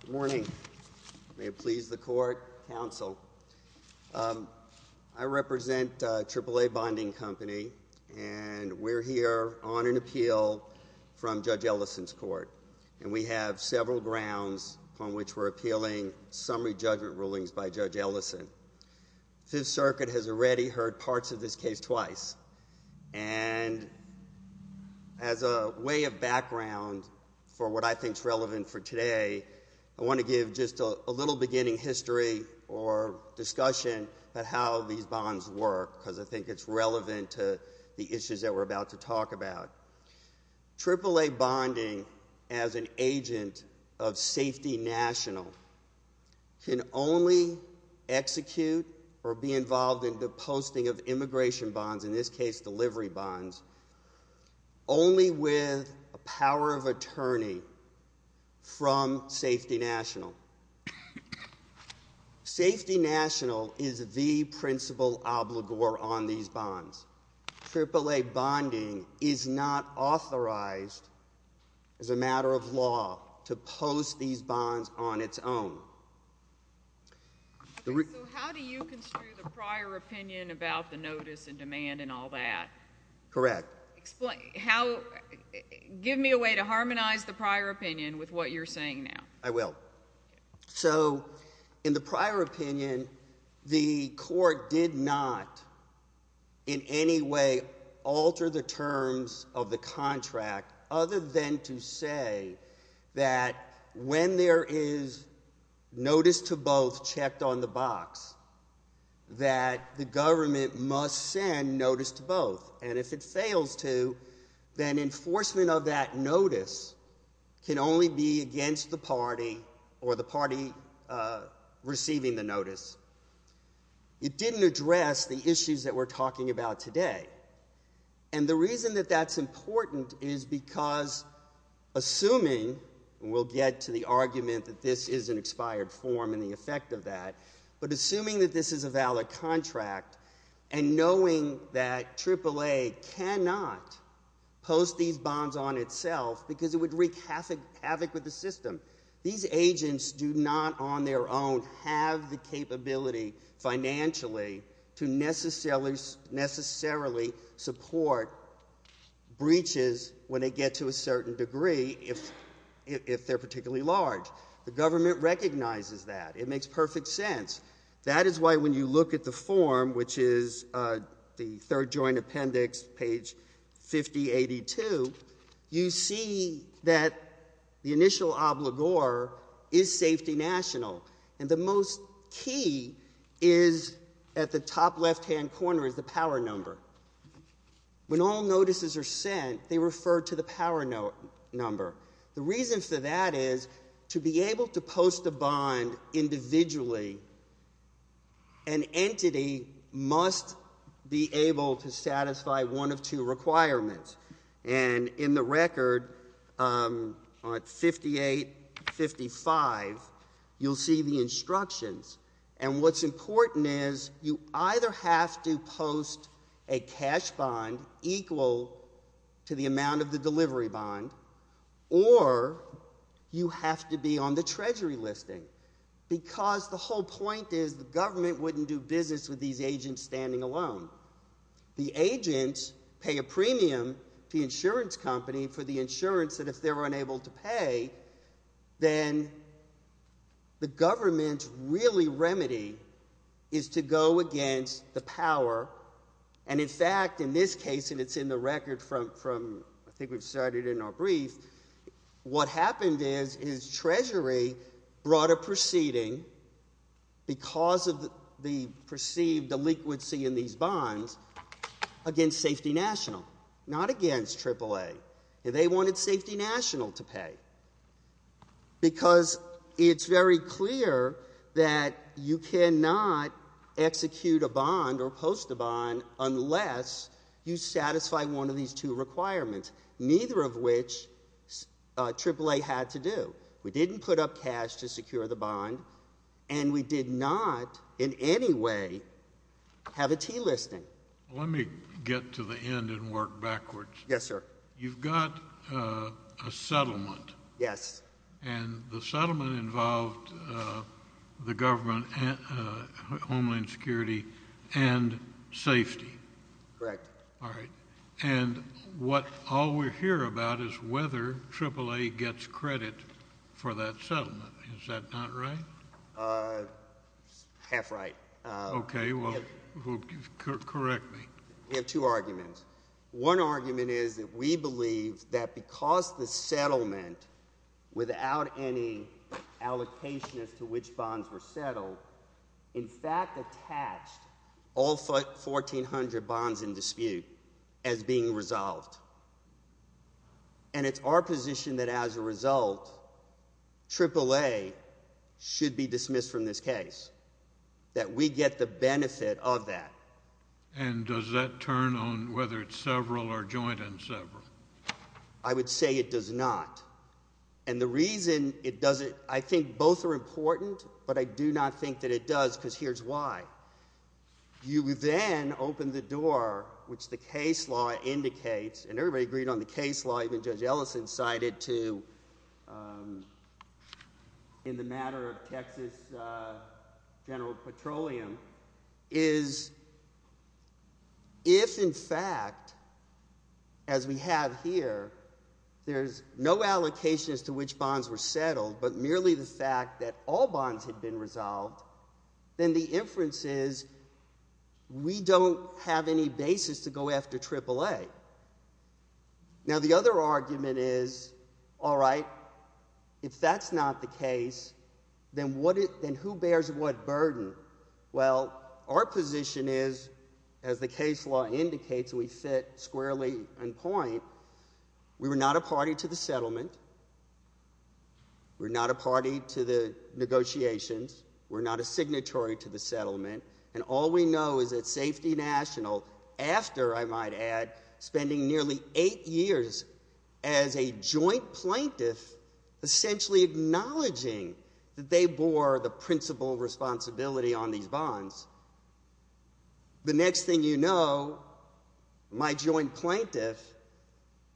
Good morning. May it please the court, counsel. I represent AAA Bonding Company, and we're here on an appeal from Judge Ellison's court, and we have several grounds on which we're appealing summary judgment rulings by Judge Ellison. Fifth Circuit has already heard parts of this case twice, and as a way of background for what I think is relevant for today, I want to give just a little beginning history or discussion of how these bonds work, because I think it's relevant to the issues that we're about to talk about. AAA Bonding, as an agent of Safety National, can only execute or be involved in the posting of immigration bonds, in this case delivery bonds, only with a power of attorney from Safety National. Safety National is the principal obligor on these bonds. AAA Bonding is not authorized as a matter of law to post these bonds on its own. So how do you construe the prior opinion about the notice and demand and all that? Correct. Give me a way to harmonize the prior opinion with what you're saying now. I will. So in the prior opinion, the court did not in any way alter the terms of the that when there is notice to both checked on the box, that the government must send notice to both, and if it fails to, then enforcement of that notice can only be against the party or the party receiving the notice. It didn't address the issues that we're talking about today. And the reason that that's important is because assuming, and we'll get to the argument that this is an expired form and the effect of that, but assuming that this is a valid contract and knowing that AAA cannot post these bonds on itself because it would wreak havoc with the system, these agents do not on their own have the capability financially to necessarily support breaches when they get to a certain degree if they're particularly large. The government recognizes that. It makes perfect sense. That is why when you look at the form, which is the third joint appendix, page 5082, you see that the initial obligor is safety national, and the most key is at the top left-hand corner is the power number. When all notices are sent, they refer to the power number. The reason for that is to be able to post a bond individually, an entity must be able to satisfy one of two requirements. And in the record on 5855, you'll see the instructions. And what's important is you either have to post a cash bond equal to the amount of the delivery bond, or you have to be on the treasury listing. Because the whole point is the government wouldn't do business with these agents standing alone. The agents pay a premium to the insurance company for the insurance that if they're unable to pay, then the government's really remedy is to go against the power. And in fact, in this case, and it's in the record from I think we've started in our brief, what happened is, is treasury brought a proceeding because of the perceived delinquency in these bonds against safety national, not against AAA. They wanted safety national to pay. Because it's very clear that you cannot execute a bond or post a bond unless you satisfy one of these two requirements, neither of which AAA had to do. We didn't put up cash to secure the bond. And we did not in any way have a T listing. Let me get to the end and work backwards. Yes, sir. You've got a settlement. Yes. And the settlement involved the government and Homeland Security and safety. Correct. All right. And what all we hear about is whether AAA gets credit for that settlement. Is that not right? Half right. Okay. Well, correct me. We have two arguments. One argument is that we believe that because the settlement without any allocation as to which bonds were being resolved. And it's our position that as a result, AAA should be dismissed from this case, that we get the benefit of that. And does that turn on whether it's several or joint and several? I would say it does not. And the reason it doesn't, I think both are important, but I do not think that it does because here's why. You then open the case, which the case law indicates and everybody agreed on the case law. Even Judge Ellison cited to, um, in the matter of Texas, uh, general petroleum is if in fact, as we have here, there's no allocation as to which bonds were settled, but merely the fact that all go after AAA. Now the other argument is, all right, if that's not the case, then what it, then who bears what burden? Well, our position is as the case law indicates, we fit squarely in point. We were not a party to the settlement. We're not a party to the negotiations. We're not a signatory to the settlement. And all we know is that safety national, after I might add, spending nearly eight years as a joint plaintiff, essentially acknowledging that they bore the principal responsibility on these bonds. The next thing you know, my joint plaintiff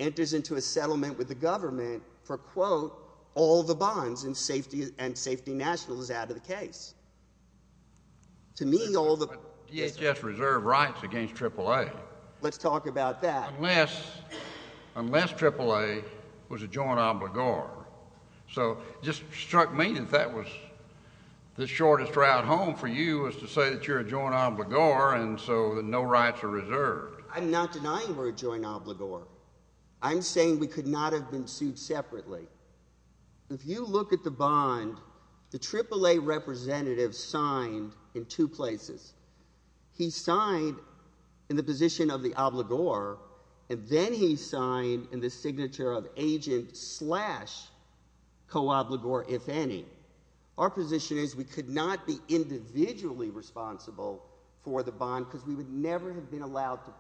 enters into a settlement with the government for quote, all the bonds and safety and safety national is out of the case. To me, all the DHS reserve rights against AAA. Let's talk about that. Unless, unless AAA was a joint obligor. So just struck me that that was the shortest route home for you is to say that you're a joint obligor. And so the no rights are reserved. I'm not denying we're a joint obligor. I'm saying we could not have been sued separately. If you look at the bond, the AAA representative signed in two places. He signed in the position of the obligor and then he signed in the signature of agent slash co obligor. If any, our position is we could not be individually responsible for the bond because we would never have been allowed to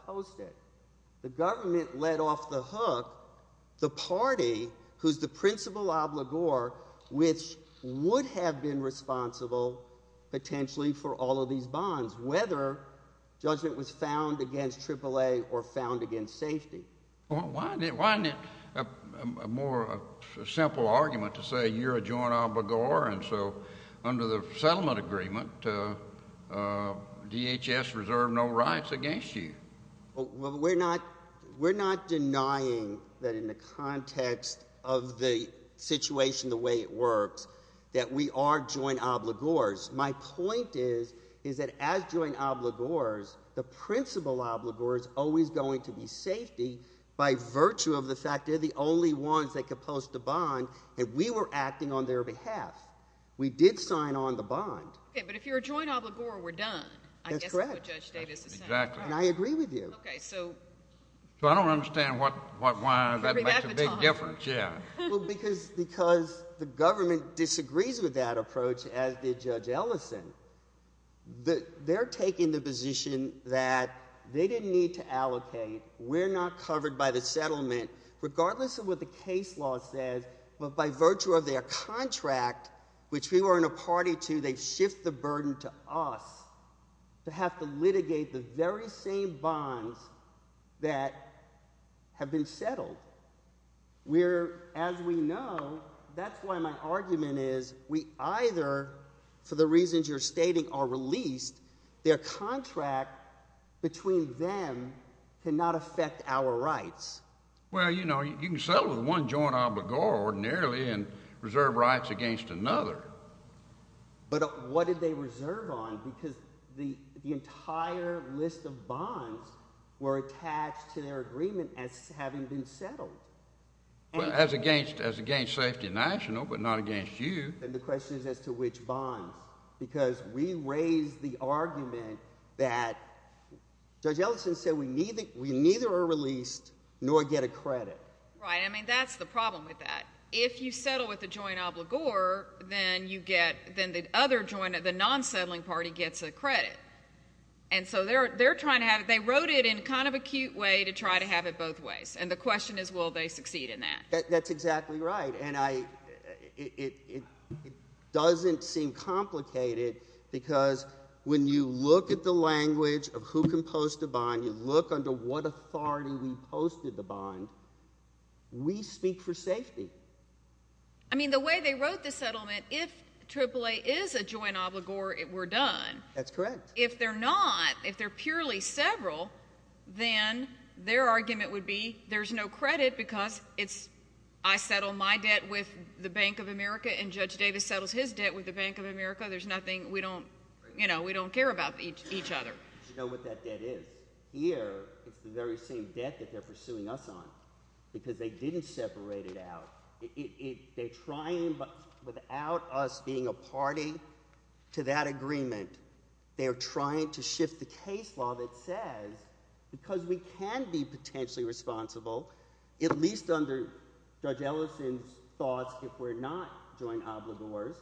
would have been responsible potentially for all of these bonds, whether judgment was found against AAA or found against safety. Well, why didn't, why didn't a more simple argument to say you're a joint obligor. And so under the settlement agreement, uh, uh, DHS reserve no rights against you. Well, we're not, we're not denying that in the context of the situation, the way it works, that we are joint obligors. My point is, is that as joint obligors, the principal obligor is always going to be safety by virtue of the fact they're the only ones that could post a bond and we were acting on their behalf. We did sign on the bond. Okay. But if you're a joint obligor, we're done. That's correct. And I agree with you. Okay. So I don't understand what, what, why that makes a big difference. Yeah. Well, because, because the government disagrees with that approach as did judge Ellison, the, they're taking the position that they didn't need to allocate. We're not covered by the settlement regardless of what the case law says. But by virtue of their contract, which we were in a party to, they shift the burden to us to have to litigate the very same bond that have been settled. We're, as we know, that's why my argument is we either, for the reasons you're stating, are released. Their contract between them can not affect our rights. Well, you know, you can settle with one joint obligor ordinarily and reserve rights against another. But what did they reserve on? Because the, the entire list of bonds, the entire list of bonds were attached to their agreement as having been settled. As against, as against Safety National, but not against you. And the question is as to which bonds. Because we raised the argument that Judge Ellison said we neither, we neither are released nor get a credit. Right. I mean, that's the problem with that. If you settle with a joint obligor, then you get, then the other joint, the non-settling party gets a credit. And so they're, they're in kind of a cute way to try to have it both ways. And the question is will they succeed in that? That, that's exactly right. And I, it, it, it doesn't seem complicated because when you look at the language of who can post a bond, you look under what authority we posted the bond, we speak for safety. I mean, the way they wrote the settlement, if AAA is a bond, if they're purely several, then their argument would be there's no credit because it's, I settle my debt with the Bank of America and Judge Davis settles his debt with the Bank of America. There's nothing, we don't, you know, we don't care about each, each other. Do you know what that debt is? Here, it's the very same debt that they're pursuing us on. Because they didn't separate it out. It, it, it, they're trying, but without us being a party to that agreement, they're trying to shift the case law that says, because we can be potentially responsible, at least under Judge Ellison's thoughts, if we're not joint obligors,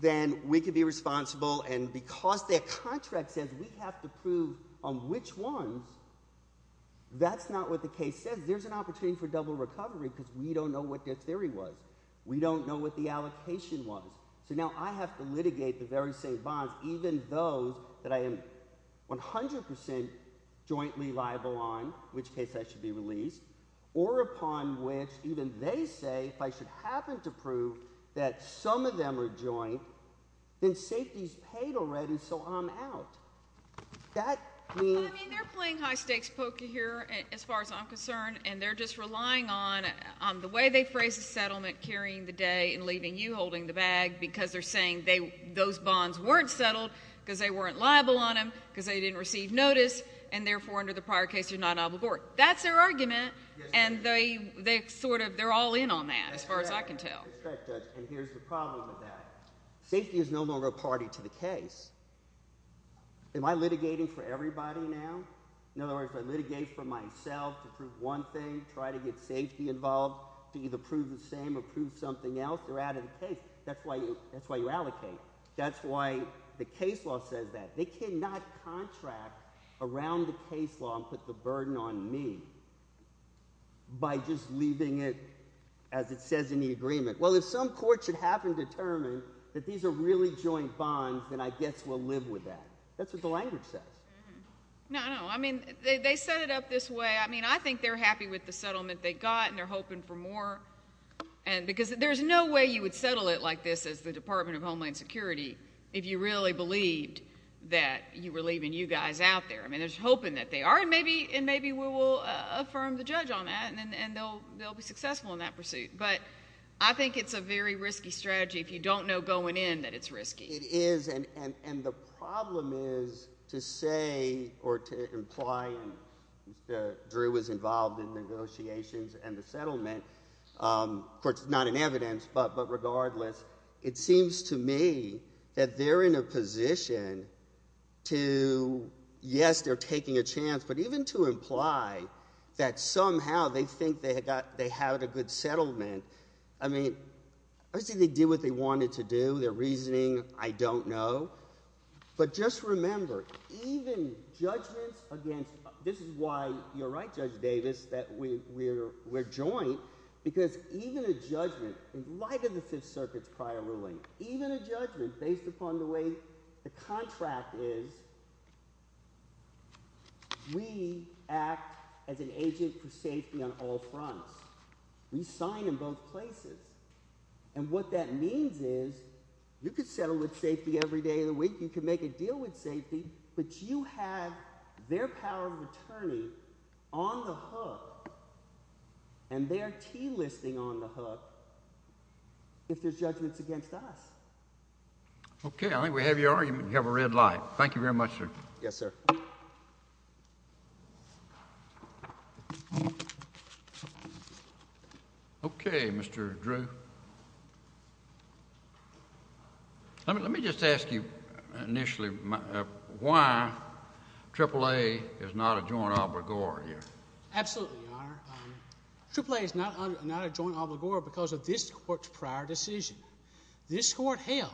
then we could be responsible. And because their contract says we have to prove on which ones, that's not what the case says. There's an opportunity for double recovery because we don't know what their theory was. We don't know what the allocation was. So now I have to litigate the very same bonds, even those that I am 100% jointly liable on, which case I should be released, or upon which even they say, if I should happen to prove that some of them are joint, then safety's paid already, so I'm out. That, I mean. I mean, they're playing high stakes poker here, as far as I'm concerned, and they're just relying on, on the way they phrase the settlement, carrying the day, and leaving you holding the bag, because they're saying they, those bonds weren't settled, because they weren't liable on them, because they didn't receive notice, and therefore, under the prior case, you're not on the board. That's their argument, and they, they sort of, they're all in on that, as far as I can tell. That's right, Judge, and here's the problem with that. Safety is no longer a party to the case. Am I litigating for everybody now? In other words, if I litigate for myself to try to get safety involved, to either prove the same, or prove something else, they're out of the case. That's why you, that's why you allocate. That's why the case law says that. They cannot contract around the case law and put the burden on me by just leaving it as it says in the agreement. Well, if some court should happen to determine that these are really joint bonds, then I guess we'll live with that. That's what the language says. No, no. I mean, they, they set it up this way. I mean, I think they're happy with the settlement they got, and they're hoping for more, and, because there's no way you would settle it like this as the Department of Homeland Security if you really believed that you were leaving you guys out there. I mean, they're hoping that they are, and maybe, and maybe we will affirm the judge on that, and, and they'll, they'll be successful in that pursuit, but I think it's a very risky strategy if you don't know going in that it's risky. It is, and, and, and the problem is to say, or to imply that Drew was involved in negotiating and the settlement, of course, not in evidence, but, but regardless, it seems to me that they're in a position to, yes, they're taking a chance, but even to imply that somehow they think they had got, they had a good settlement. I mean, obviously they did what they wanted to do. Their reasoning, I don't know, but just remember, even judgments against, this is why, you're right, Judge Davis, that we're, we're, we're joint, because even a judgment, in light of the Fifth Circuit's prior ruling, even a judgment based upon the way the contract is, we act as an agent for safety on all fronts. We sign in both places, and what that means is you could settle with safety every day of the week, you could make a deal with safety, but you have their power of attorney on the hook, and their T-listing on the hook, if there's judgments against us. Okay, I think we have your argument. You have a red light. Thank you very much, sir. Yes, sir. Okay, Mr. Drew. Let me, let me just ask you initially why AAA is not a joint obligor here. Absolutely, Your Honor. AAA is not a joint obligor because of this Court's prior decision. This Court held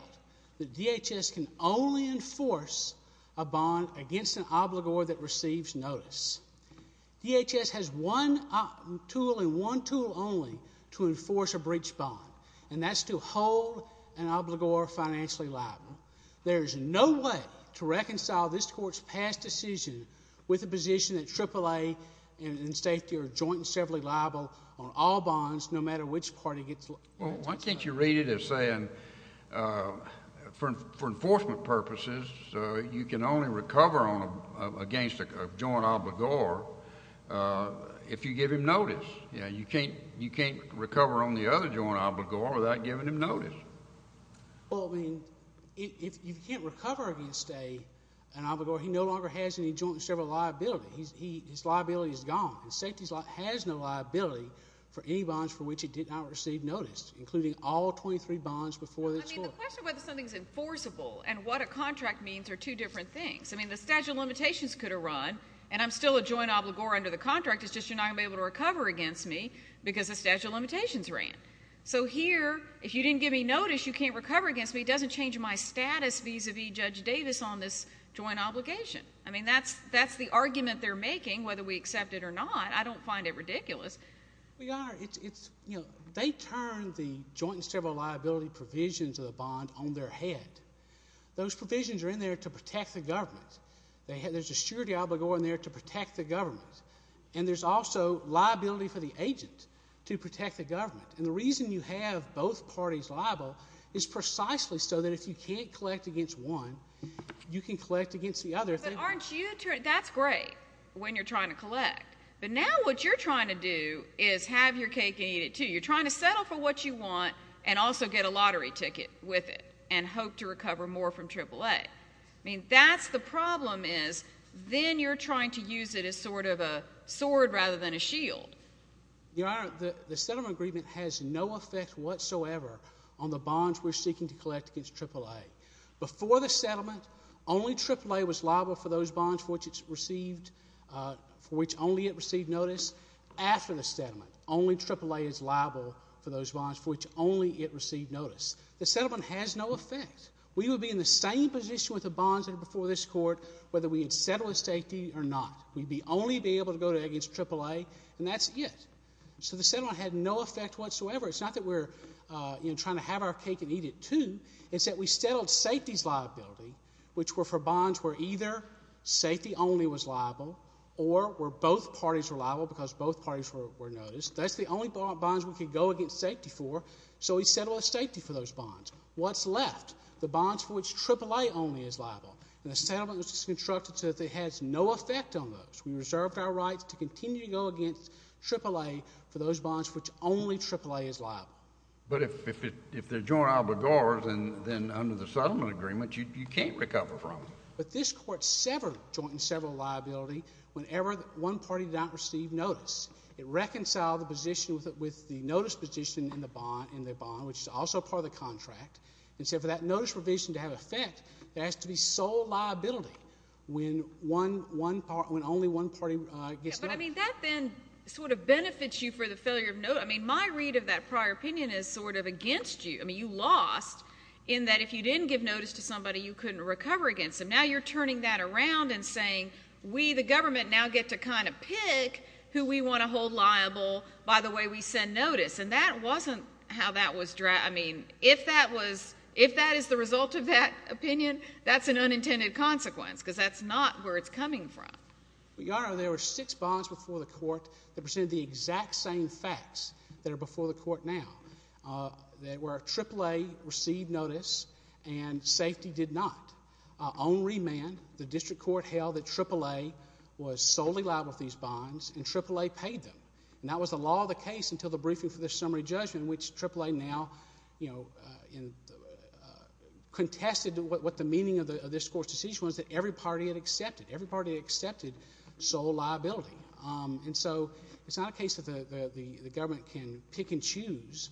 that DHS can only enforce a bond against an obligor that receives notice. DHS has one tool, and one tool only, to enforce a breach bond, and that's to hold an obligor financially liable. There is no way to reconcile this Court's past decision with the position that AAA and safety are joint and severally liable on all bonds, no matter which party gets liable. Well, why can't you read it as saying, for enforcement purposes, you can only recover on a, against a joint obligor if you give him notice. You know, you can't, you can't recover on the other joint obligor without giving him notice. Well, I mean, if you can't recover against a, an obligor, he no longer has any joint and sever liability. His liability is gone, and safety has no liability for any bonds for which he did not receive notice, including all 23 bonds before this Court. I mean, the question of whether something's enforceable and what a contract means are two different things. I mean, the statute of limitations could have run, and I'm still a joint obligor under the contract, it's just you're not going to be able to recover against me because the statute of limitations ran. So here, if you didn't give me notice, you can't recover against me, it doesn't change my status vis-a-vis Judge Davis on this joint obligation. I mean, that's, that's the argument they're making, whether we accept it or not. I don't find it ridiculous. Well, Your Honor, it's, it's, you know, they turn the joint and sever liability provisions of the bond on their head. Those provisions are in there to protect the government. They have, there's a surety obligor in there to protect the government. And there's also liability for the agent to protect the government. And the reason you have both parties liable is precisely so that if you can't collect against one, you can collect against the other. But aren't you, that's great when you're trying to collect. But now what you're trying to do is have your cake and eat it, too. You're trying to settle for what you want and also get a lottery ticket with it and hope to recover more from AAA. I mean, that's the problem is then you're trying to use it as sort of a sword rather than a shield. Your Honor, the, the settlement agreement has no effect whatsoever on the bonds we're seeking to collect against AAA. Before the settlement, only AAA was liable for those bonds for which only it received notice. The settlement has no effect. We would be in the same position with the bonds before this Court whether we had settled the safety or not. We'd be only be able to go against AAA, and that's it. So the settlement had no effect whatsoever. It's not that we're, you know, trying to have our cake and eat it, too. It's that we settled safety's liability, which were for bonds where either safety only was liable or were noticed. That's the only bonds we could go against safety for. So we settled safety for those bonds. What's left? The bonds for which AAA only is liable. And the settlement was constructed so that it has no effect on those. We reserved our rights to continue to go against AAA for those bonds for which only AAA is liable. But if, if, if they're joint albigors, then, then under the settlement agreement, you, you can't recover from it. But this Court severed joint and several liability whenever one party did not receive notice. It reconciled the position with, with the notice position in the bond, in the bond, which is also part of the contract. And so for that notice provision to have effect, there has to be sole liability when one, one party, when only one party gets a notice. But, I mean, that then sort of benefits you for the failure of notice. I mean, my read of that prior opinion is sort of against you. I mean, you lost in that if you didn't give notice to somebody, you couldn't recover against them. Now you're turning that around and saying, we, the government, now get to kind of pick who we want to hold liable by the way we send notice. And that wasn't how that was, I mean, if that was, if that is the result of that opinion, that's an unintended consequence, because that's not where it's coming from. But, Your Honor, there were six bonds before the Court that presented the exact same facts that are before the Court now. There were AAA received notice and safety did not. On the other hand, AAA was solely liable for these bonds and AAA paid them. And that was the law of the case until the briefing for the summary judgment, which AAA now, you know, contested what the meaning of this Court's decision was that every party had accepted, every party had accepted sole liability. And so it's not a case that the government can pick and choose.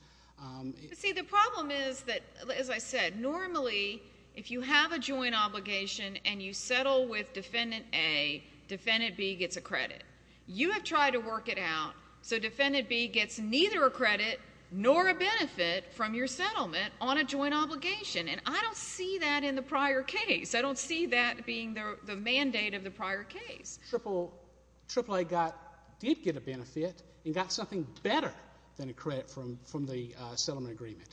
But, see, the problem is that, as I said, normally if you have a joint obligation and you settle with Defendant A, Defendant B gets a credit. You have tried to work it out, so Defendant B gets neither a credit nor a benefit from your settlement on a joint obligation. And I don't see that in the prior case. I don't see that being the mandate of the prior case. AAA got, did get a benefit and got something better than a credit from the settlement agreement.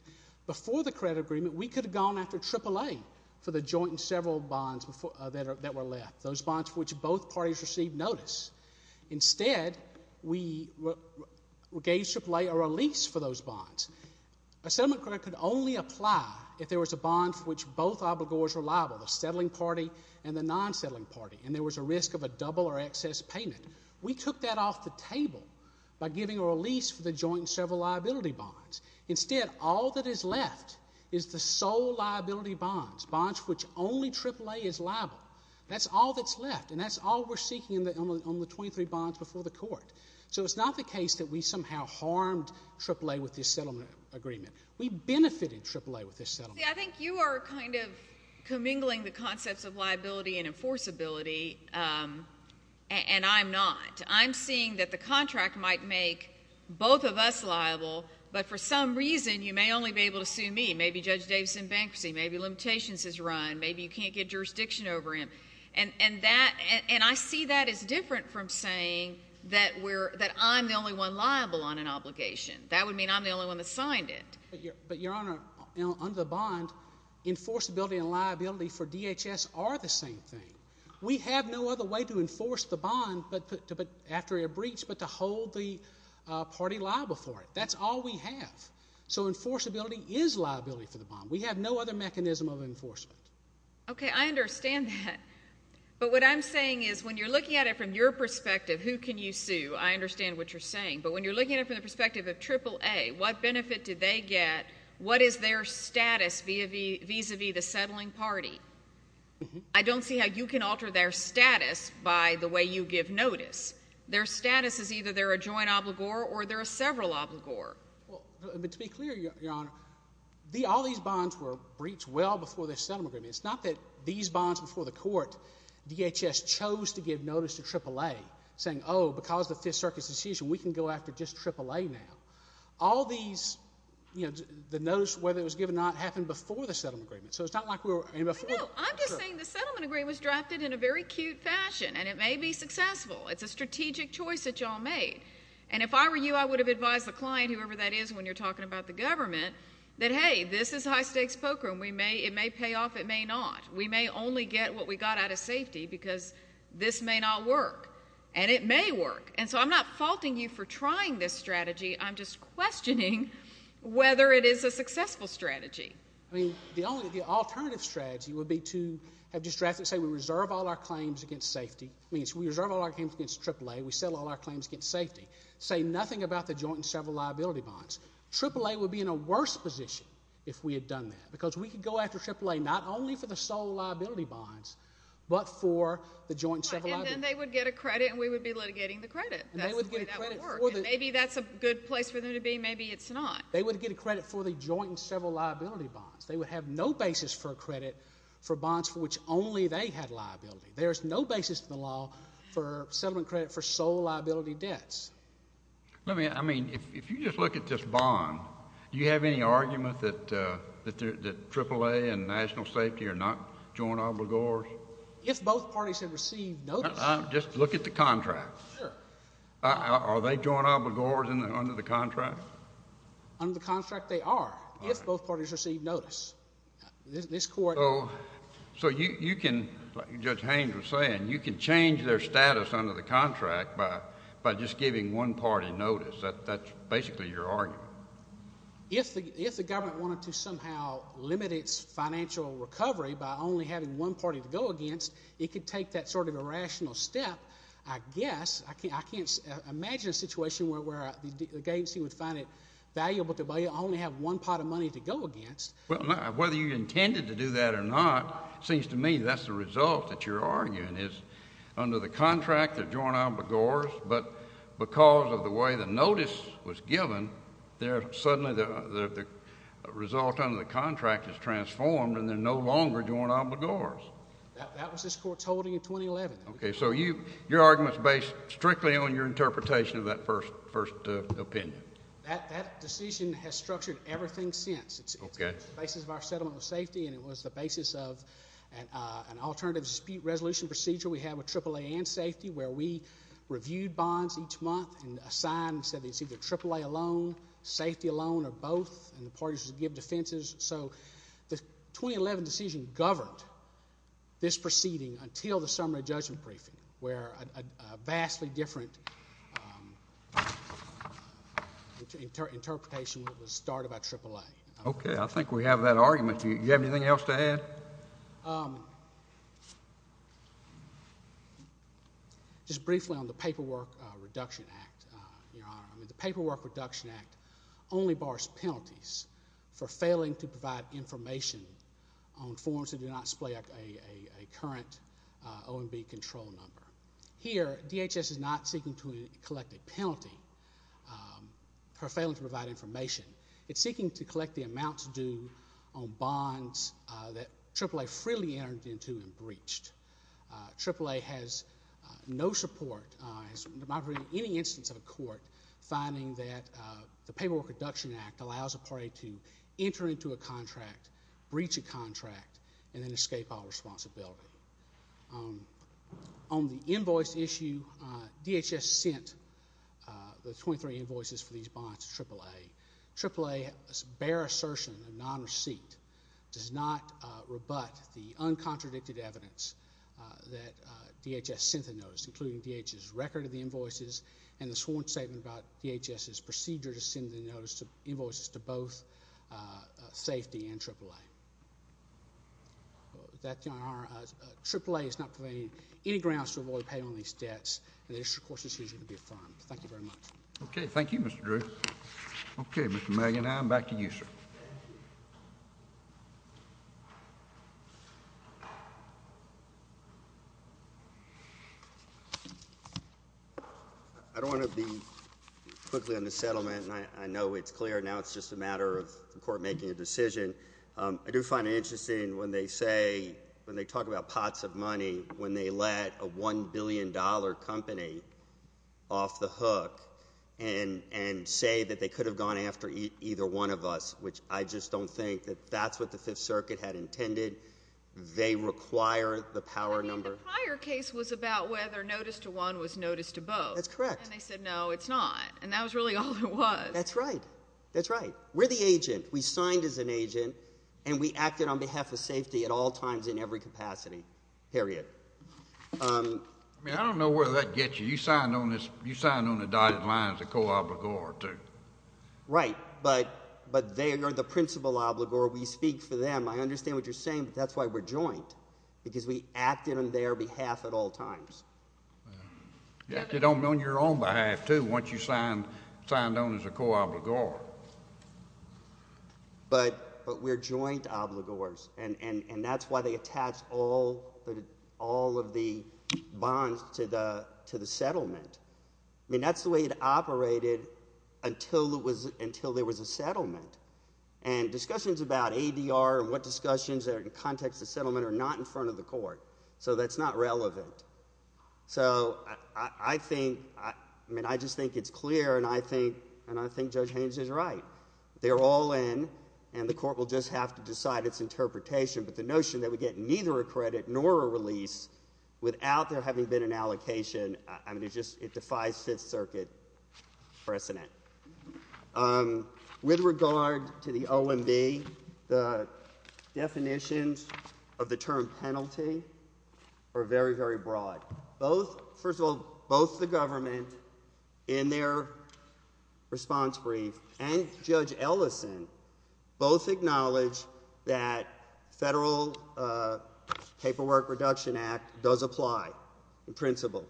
Before the credit agreement, we could have gone after AAA for the joint and several bonds that were left, those bonds which both parties received notice. Instead, we gave AAA a release for those bonds. A settlement credit could only apply if there was a bond for which both obligors were liable, the settling party and the non-settling party, and there was a risk of a double or excess payment. We took that off the table by giving a release for the joint and several liability bonds. Instead, all that is left is the sole liability bonds, bonds for which only AAA is liable. That's all that's left, and that's all we're seeking on the 23 bonds before the court. So it's not the case that we somehow harmed AAA with this settlement agreement. We benefited AAA with this settlement. I think you are kind of commingling the concepts of liability and enforceability, and I'm not. I'm seeing that the contract might make both of us liable, but for some reason, you may only be able to sue me. Maybe Judge Davis is in bankruptcy. Maybe limitations has run. Maybe you can't get jurisdiction over him, and I see that as different from saying that I'm the only one liable on an obligation. That would mean I'm the only one that signed it. But, Your Honor, under the bond, enforceability and liability for DHS are the same thing. We have no other way to enforce the bond after a breach but to hold the party liable for life. So enforceability is liability for the bond. We have no other mechanism of enforcement. Okay, I understand that. But what I'm saying is, when you're looking at it from your perspective, who can you sue, I understand what you're saying. But when you're looking at it from the perspective of AAA, what benefit did they get? What is their status vis-a-vis the settling party? I don't see how you can alter their status by the way you give notice. Their status is either they're a joint obligor or they're a several obligor. Well, to be clear, Your Honor, all these bonds were breached well before the settlement agreement. It's not that these bonds before the court, DHS chose to give notice to AAA saying, oh, because the Fifth Circuit's decision, we can go after just AAA now. All these, you know, the notice, whether it was given or not, happened before the settlement agreement. So it's not like we were— I know. I'm just saying the settlement agreement was drafted in a very cute fashion, and it may be successful. It's a strategic choice that y'all made. And if I were you, I would have advised the client, whoever that is, when you're talking about the government, that hey, this is high-stakes poker, and we may—it may pay off, it may not. We may only get what we got out of safety because this may not work. And it may work. And so I'm not faulting you for trying this strategy. I'm just questioning whether it is a successful strategy. I mean, the only—the alternative strategy would be to have just drafted—say we reserve all our claims against safety. I mean, we reserve all our claims against AAA. We settle all our claims against safety. Say nothing about the joint and several liability bonds. AAA would be in a worse position if we had done that, because we could go after AAA not only for the sole liability bonds, but for the joint and several liability bonds. And then they would get a credit, and we would be litigating the credit. That's the way that would work. And they would get a credit for the— And maybe that's a good place for them to be. Maybe it's not. They would get a credit for the joint and several liability bonds. They would have no basis for a credit for bonds for which only they had liability. There is no basis in the sole liability debts. Let me—I mean, if you just look at this bond, do you have any argument that AAA and national safety are not joint obligors? If both parties have received notice— Just look at the contract. Sure. Are they joint obligors under the contract? Under the contract, they are, if both parties receive notice. This Court— So you can—like Judge Haynes was saying, you can change their status under the contract by just giving one party notice. That's basically your argument. If the government wanted to somehow limit its financial recovery by only having one party to go against, it could take that sort of irrational step, I guess. I can't imagine a situation where the agency would find it valuable to only have one pot of money to go against. Well, whether you intended to do that or not, it seems to me that's the result that you're joint obligors, but because of the way the notice was given, suddenly the result under the contract is transformed and they're no longer joint obligors. That was this Court's holding in 2011. Okay. So your argument's based strictly on your interpretation of that first opinion. That decision has structured everything since. It's the basis of our settlement of safety and it was the basis of an alternative dispute resolution procedure we had with AAA and safety where we reviewed bonds each month and assigned and said it's either AAA alone, safety alone or both, and the parties would give defenses. So the 2011 decision governed this proceeding until the summary judgment briefing where a vastly different interpretation was started by AAA. Okay. I think we have that argument. Do you have anything else to add? Just briefly on the Paperwork Reduction Act, Your Honor. The Paperwork Reduction Act only bars penalties for failing to provide information on forms that do not display a current OMB control number. Here, DHS is not seeking to collect a penalty for failing to provide information. It's seeking to collect the amount due on bonds that AAA freely entered into and breached. AAA has no support in any instance of a court finding that the Paperwork Reduction Act allows a party to enter into a contract, breach a contract, and then escape all responsibility. On the invoice issue, DHS sent the 23 invoices for these bonds to AAA. AAA's bare assertion of non-receipt does not rebut the uncontradicted evidence that DHS sent the notice, including DHS' record of the invoices and the sworn statement about DHS' procedure to send the notices to both safety and AAA. AAA has not provided any grounds to avoid pay on these debts, and this, of course, is usually going to be affirmed. Thank you very much. Okay, thank you, Mr. Drew. Okay, Mr. Magan, now I'm back to you, sir. I don't want to be quickly on the settlement, and I know it's clear now it's just a matter of the court making a decision. I do find it interesting when they say, when they talk about pots of money, when they let a $1 billion company off the hook and say that they could have gone after either one of us, which I just don't think that that's what the Fifth Circuit had intended. They require the power number. I mean, the prior case was about whether notice to one was notice to both. That's correct. And they said, no, it's not, and that was really all it was. That's right. That's right. We're the agent. We signed as an agent, and we acted on behalf of safety at all times in every capacity, period. I mean, I don't know where that gets you. You signed on the dotted line as a co-obligor, too. Right, but they are the principal obligor. We speak for them. I understand what you're saying, but that's why we're joint, because we acted on their behalf at all times. You acted on your own behalf, too, once you signed on as a co-obligor. Right, but we're joint obligors, and that's why they attached all of the bonds to the settlement. I mean, that's the way it operated until there was a settlement, and discussions about ADR and what discussions are in context of settlement are not in front of the court, so that's not relevant. So I think, I mean, I just think it's clear, and I think Judge Haynes is right. They're all in, and the court will just have to decide its interpretation, but the notion that we get neither a credit nor a release without there having been an allocation, I mean, it just, it defies Fifth Circuit precedent. With regard to the OMB, the definitions of the term penalty are very, very broad. Both, first of all, both the government, in their response brief, and Judge Ellison both acknowledge that Federal Paperwork Reduction Act does apply in principle,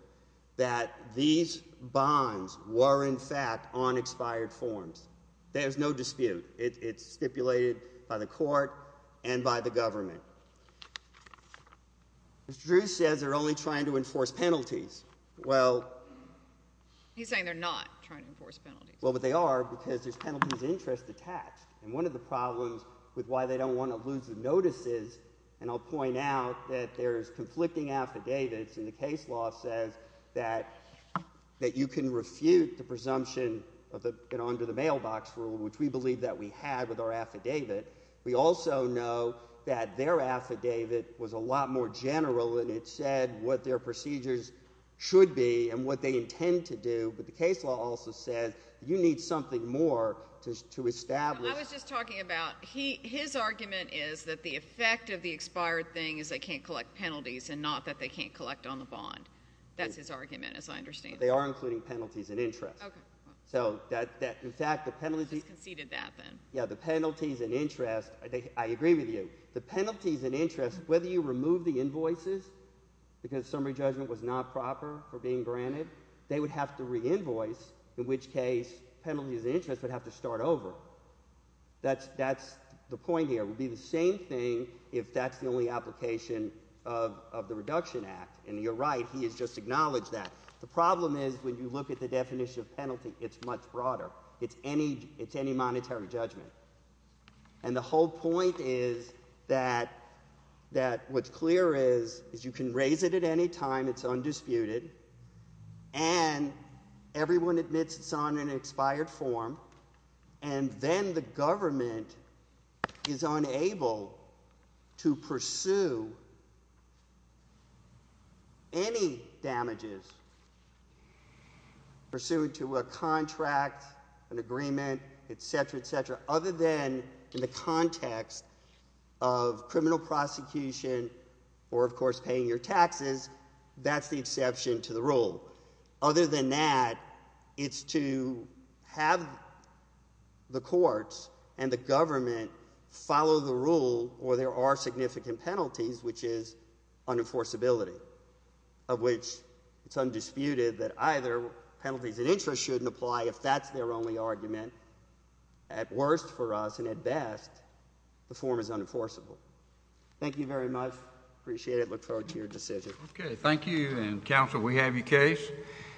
that these bonds were in fact on expired forms. There's no dispute. It's stipulated by the court and by the government. Mr. Drew says they're only trying to enforce penalties. Well... He's saying they're not trying to enforce penalties. Well, but they are, because there's penalties of interest attached, and one of the problems with why they don't want to lose the notices, and I'll point out that there's conflicting affidavits, and the case law says that you can refute the presumption of the, you know, under the mailbox rule, which we believe that we had with our affidavit. We also know that their affidavit was a lot more general, and it said what their procedures should be and what they intend to do, but the case law also said that you need something more to establish... I was just talking about, his argument is that the effect of the expired thing is they can't collect penalties, and not that they can't collect on the bond. That's his argument, as I understand it. They are including penalties of interest. Okay. So, that, in fact, the penalties... He's conceded that, then. Yeah, the penalties and interest, I agree with you. The penalties and interest, whether you remove the invoices, because summary judgment was not proper for being granted, they would have to re-invoice, in which case penalties of interest would have to start over. That's the point here. It would be the same thing if that's the only application of the Reduction Act, and you're right. He has just acknowledged that. The problem is, when you look at the whole point is that what's clear is you can raise it at any time, it's undisputed, and everyone admits it's on an expired form, and then the government is unable to pursue any other action, other than in the context of criminal prosecution, or, of course, paying your taxes, that's the exception to the rule. Other than that, it's to have the courts and the government follow the rule, or there are significant penalties, which is unenforceability, of which it's undisputed that either penalties of interest shouldn't apply, if that's their only argument. At worst for us, and at best, the form is unenforceable. Thank you very much. Appreciate it. Look forward to your decision.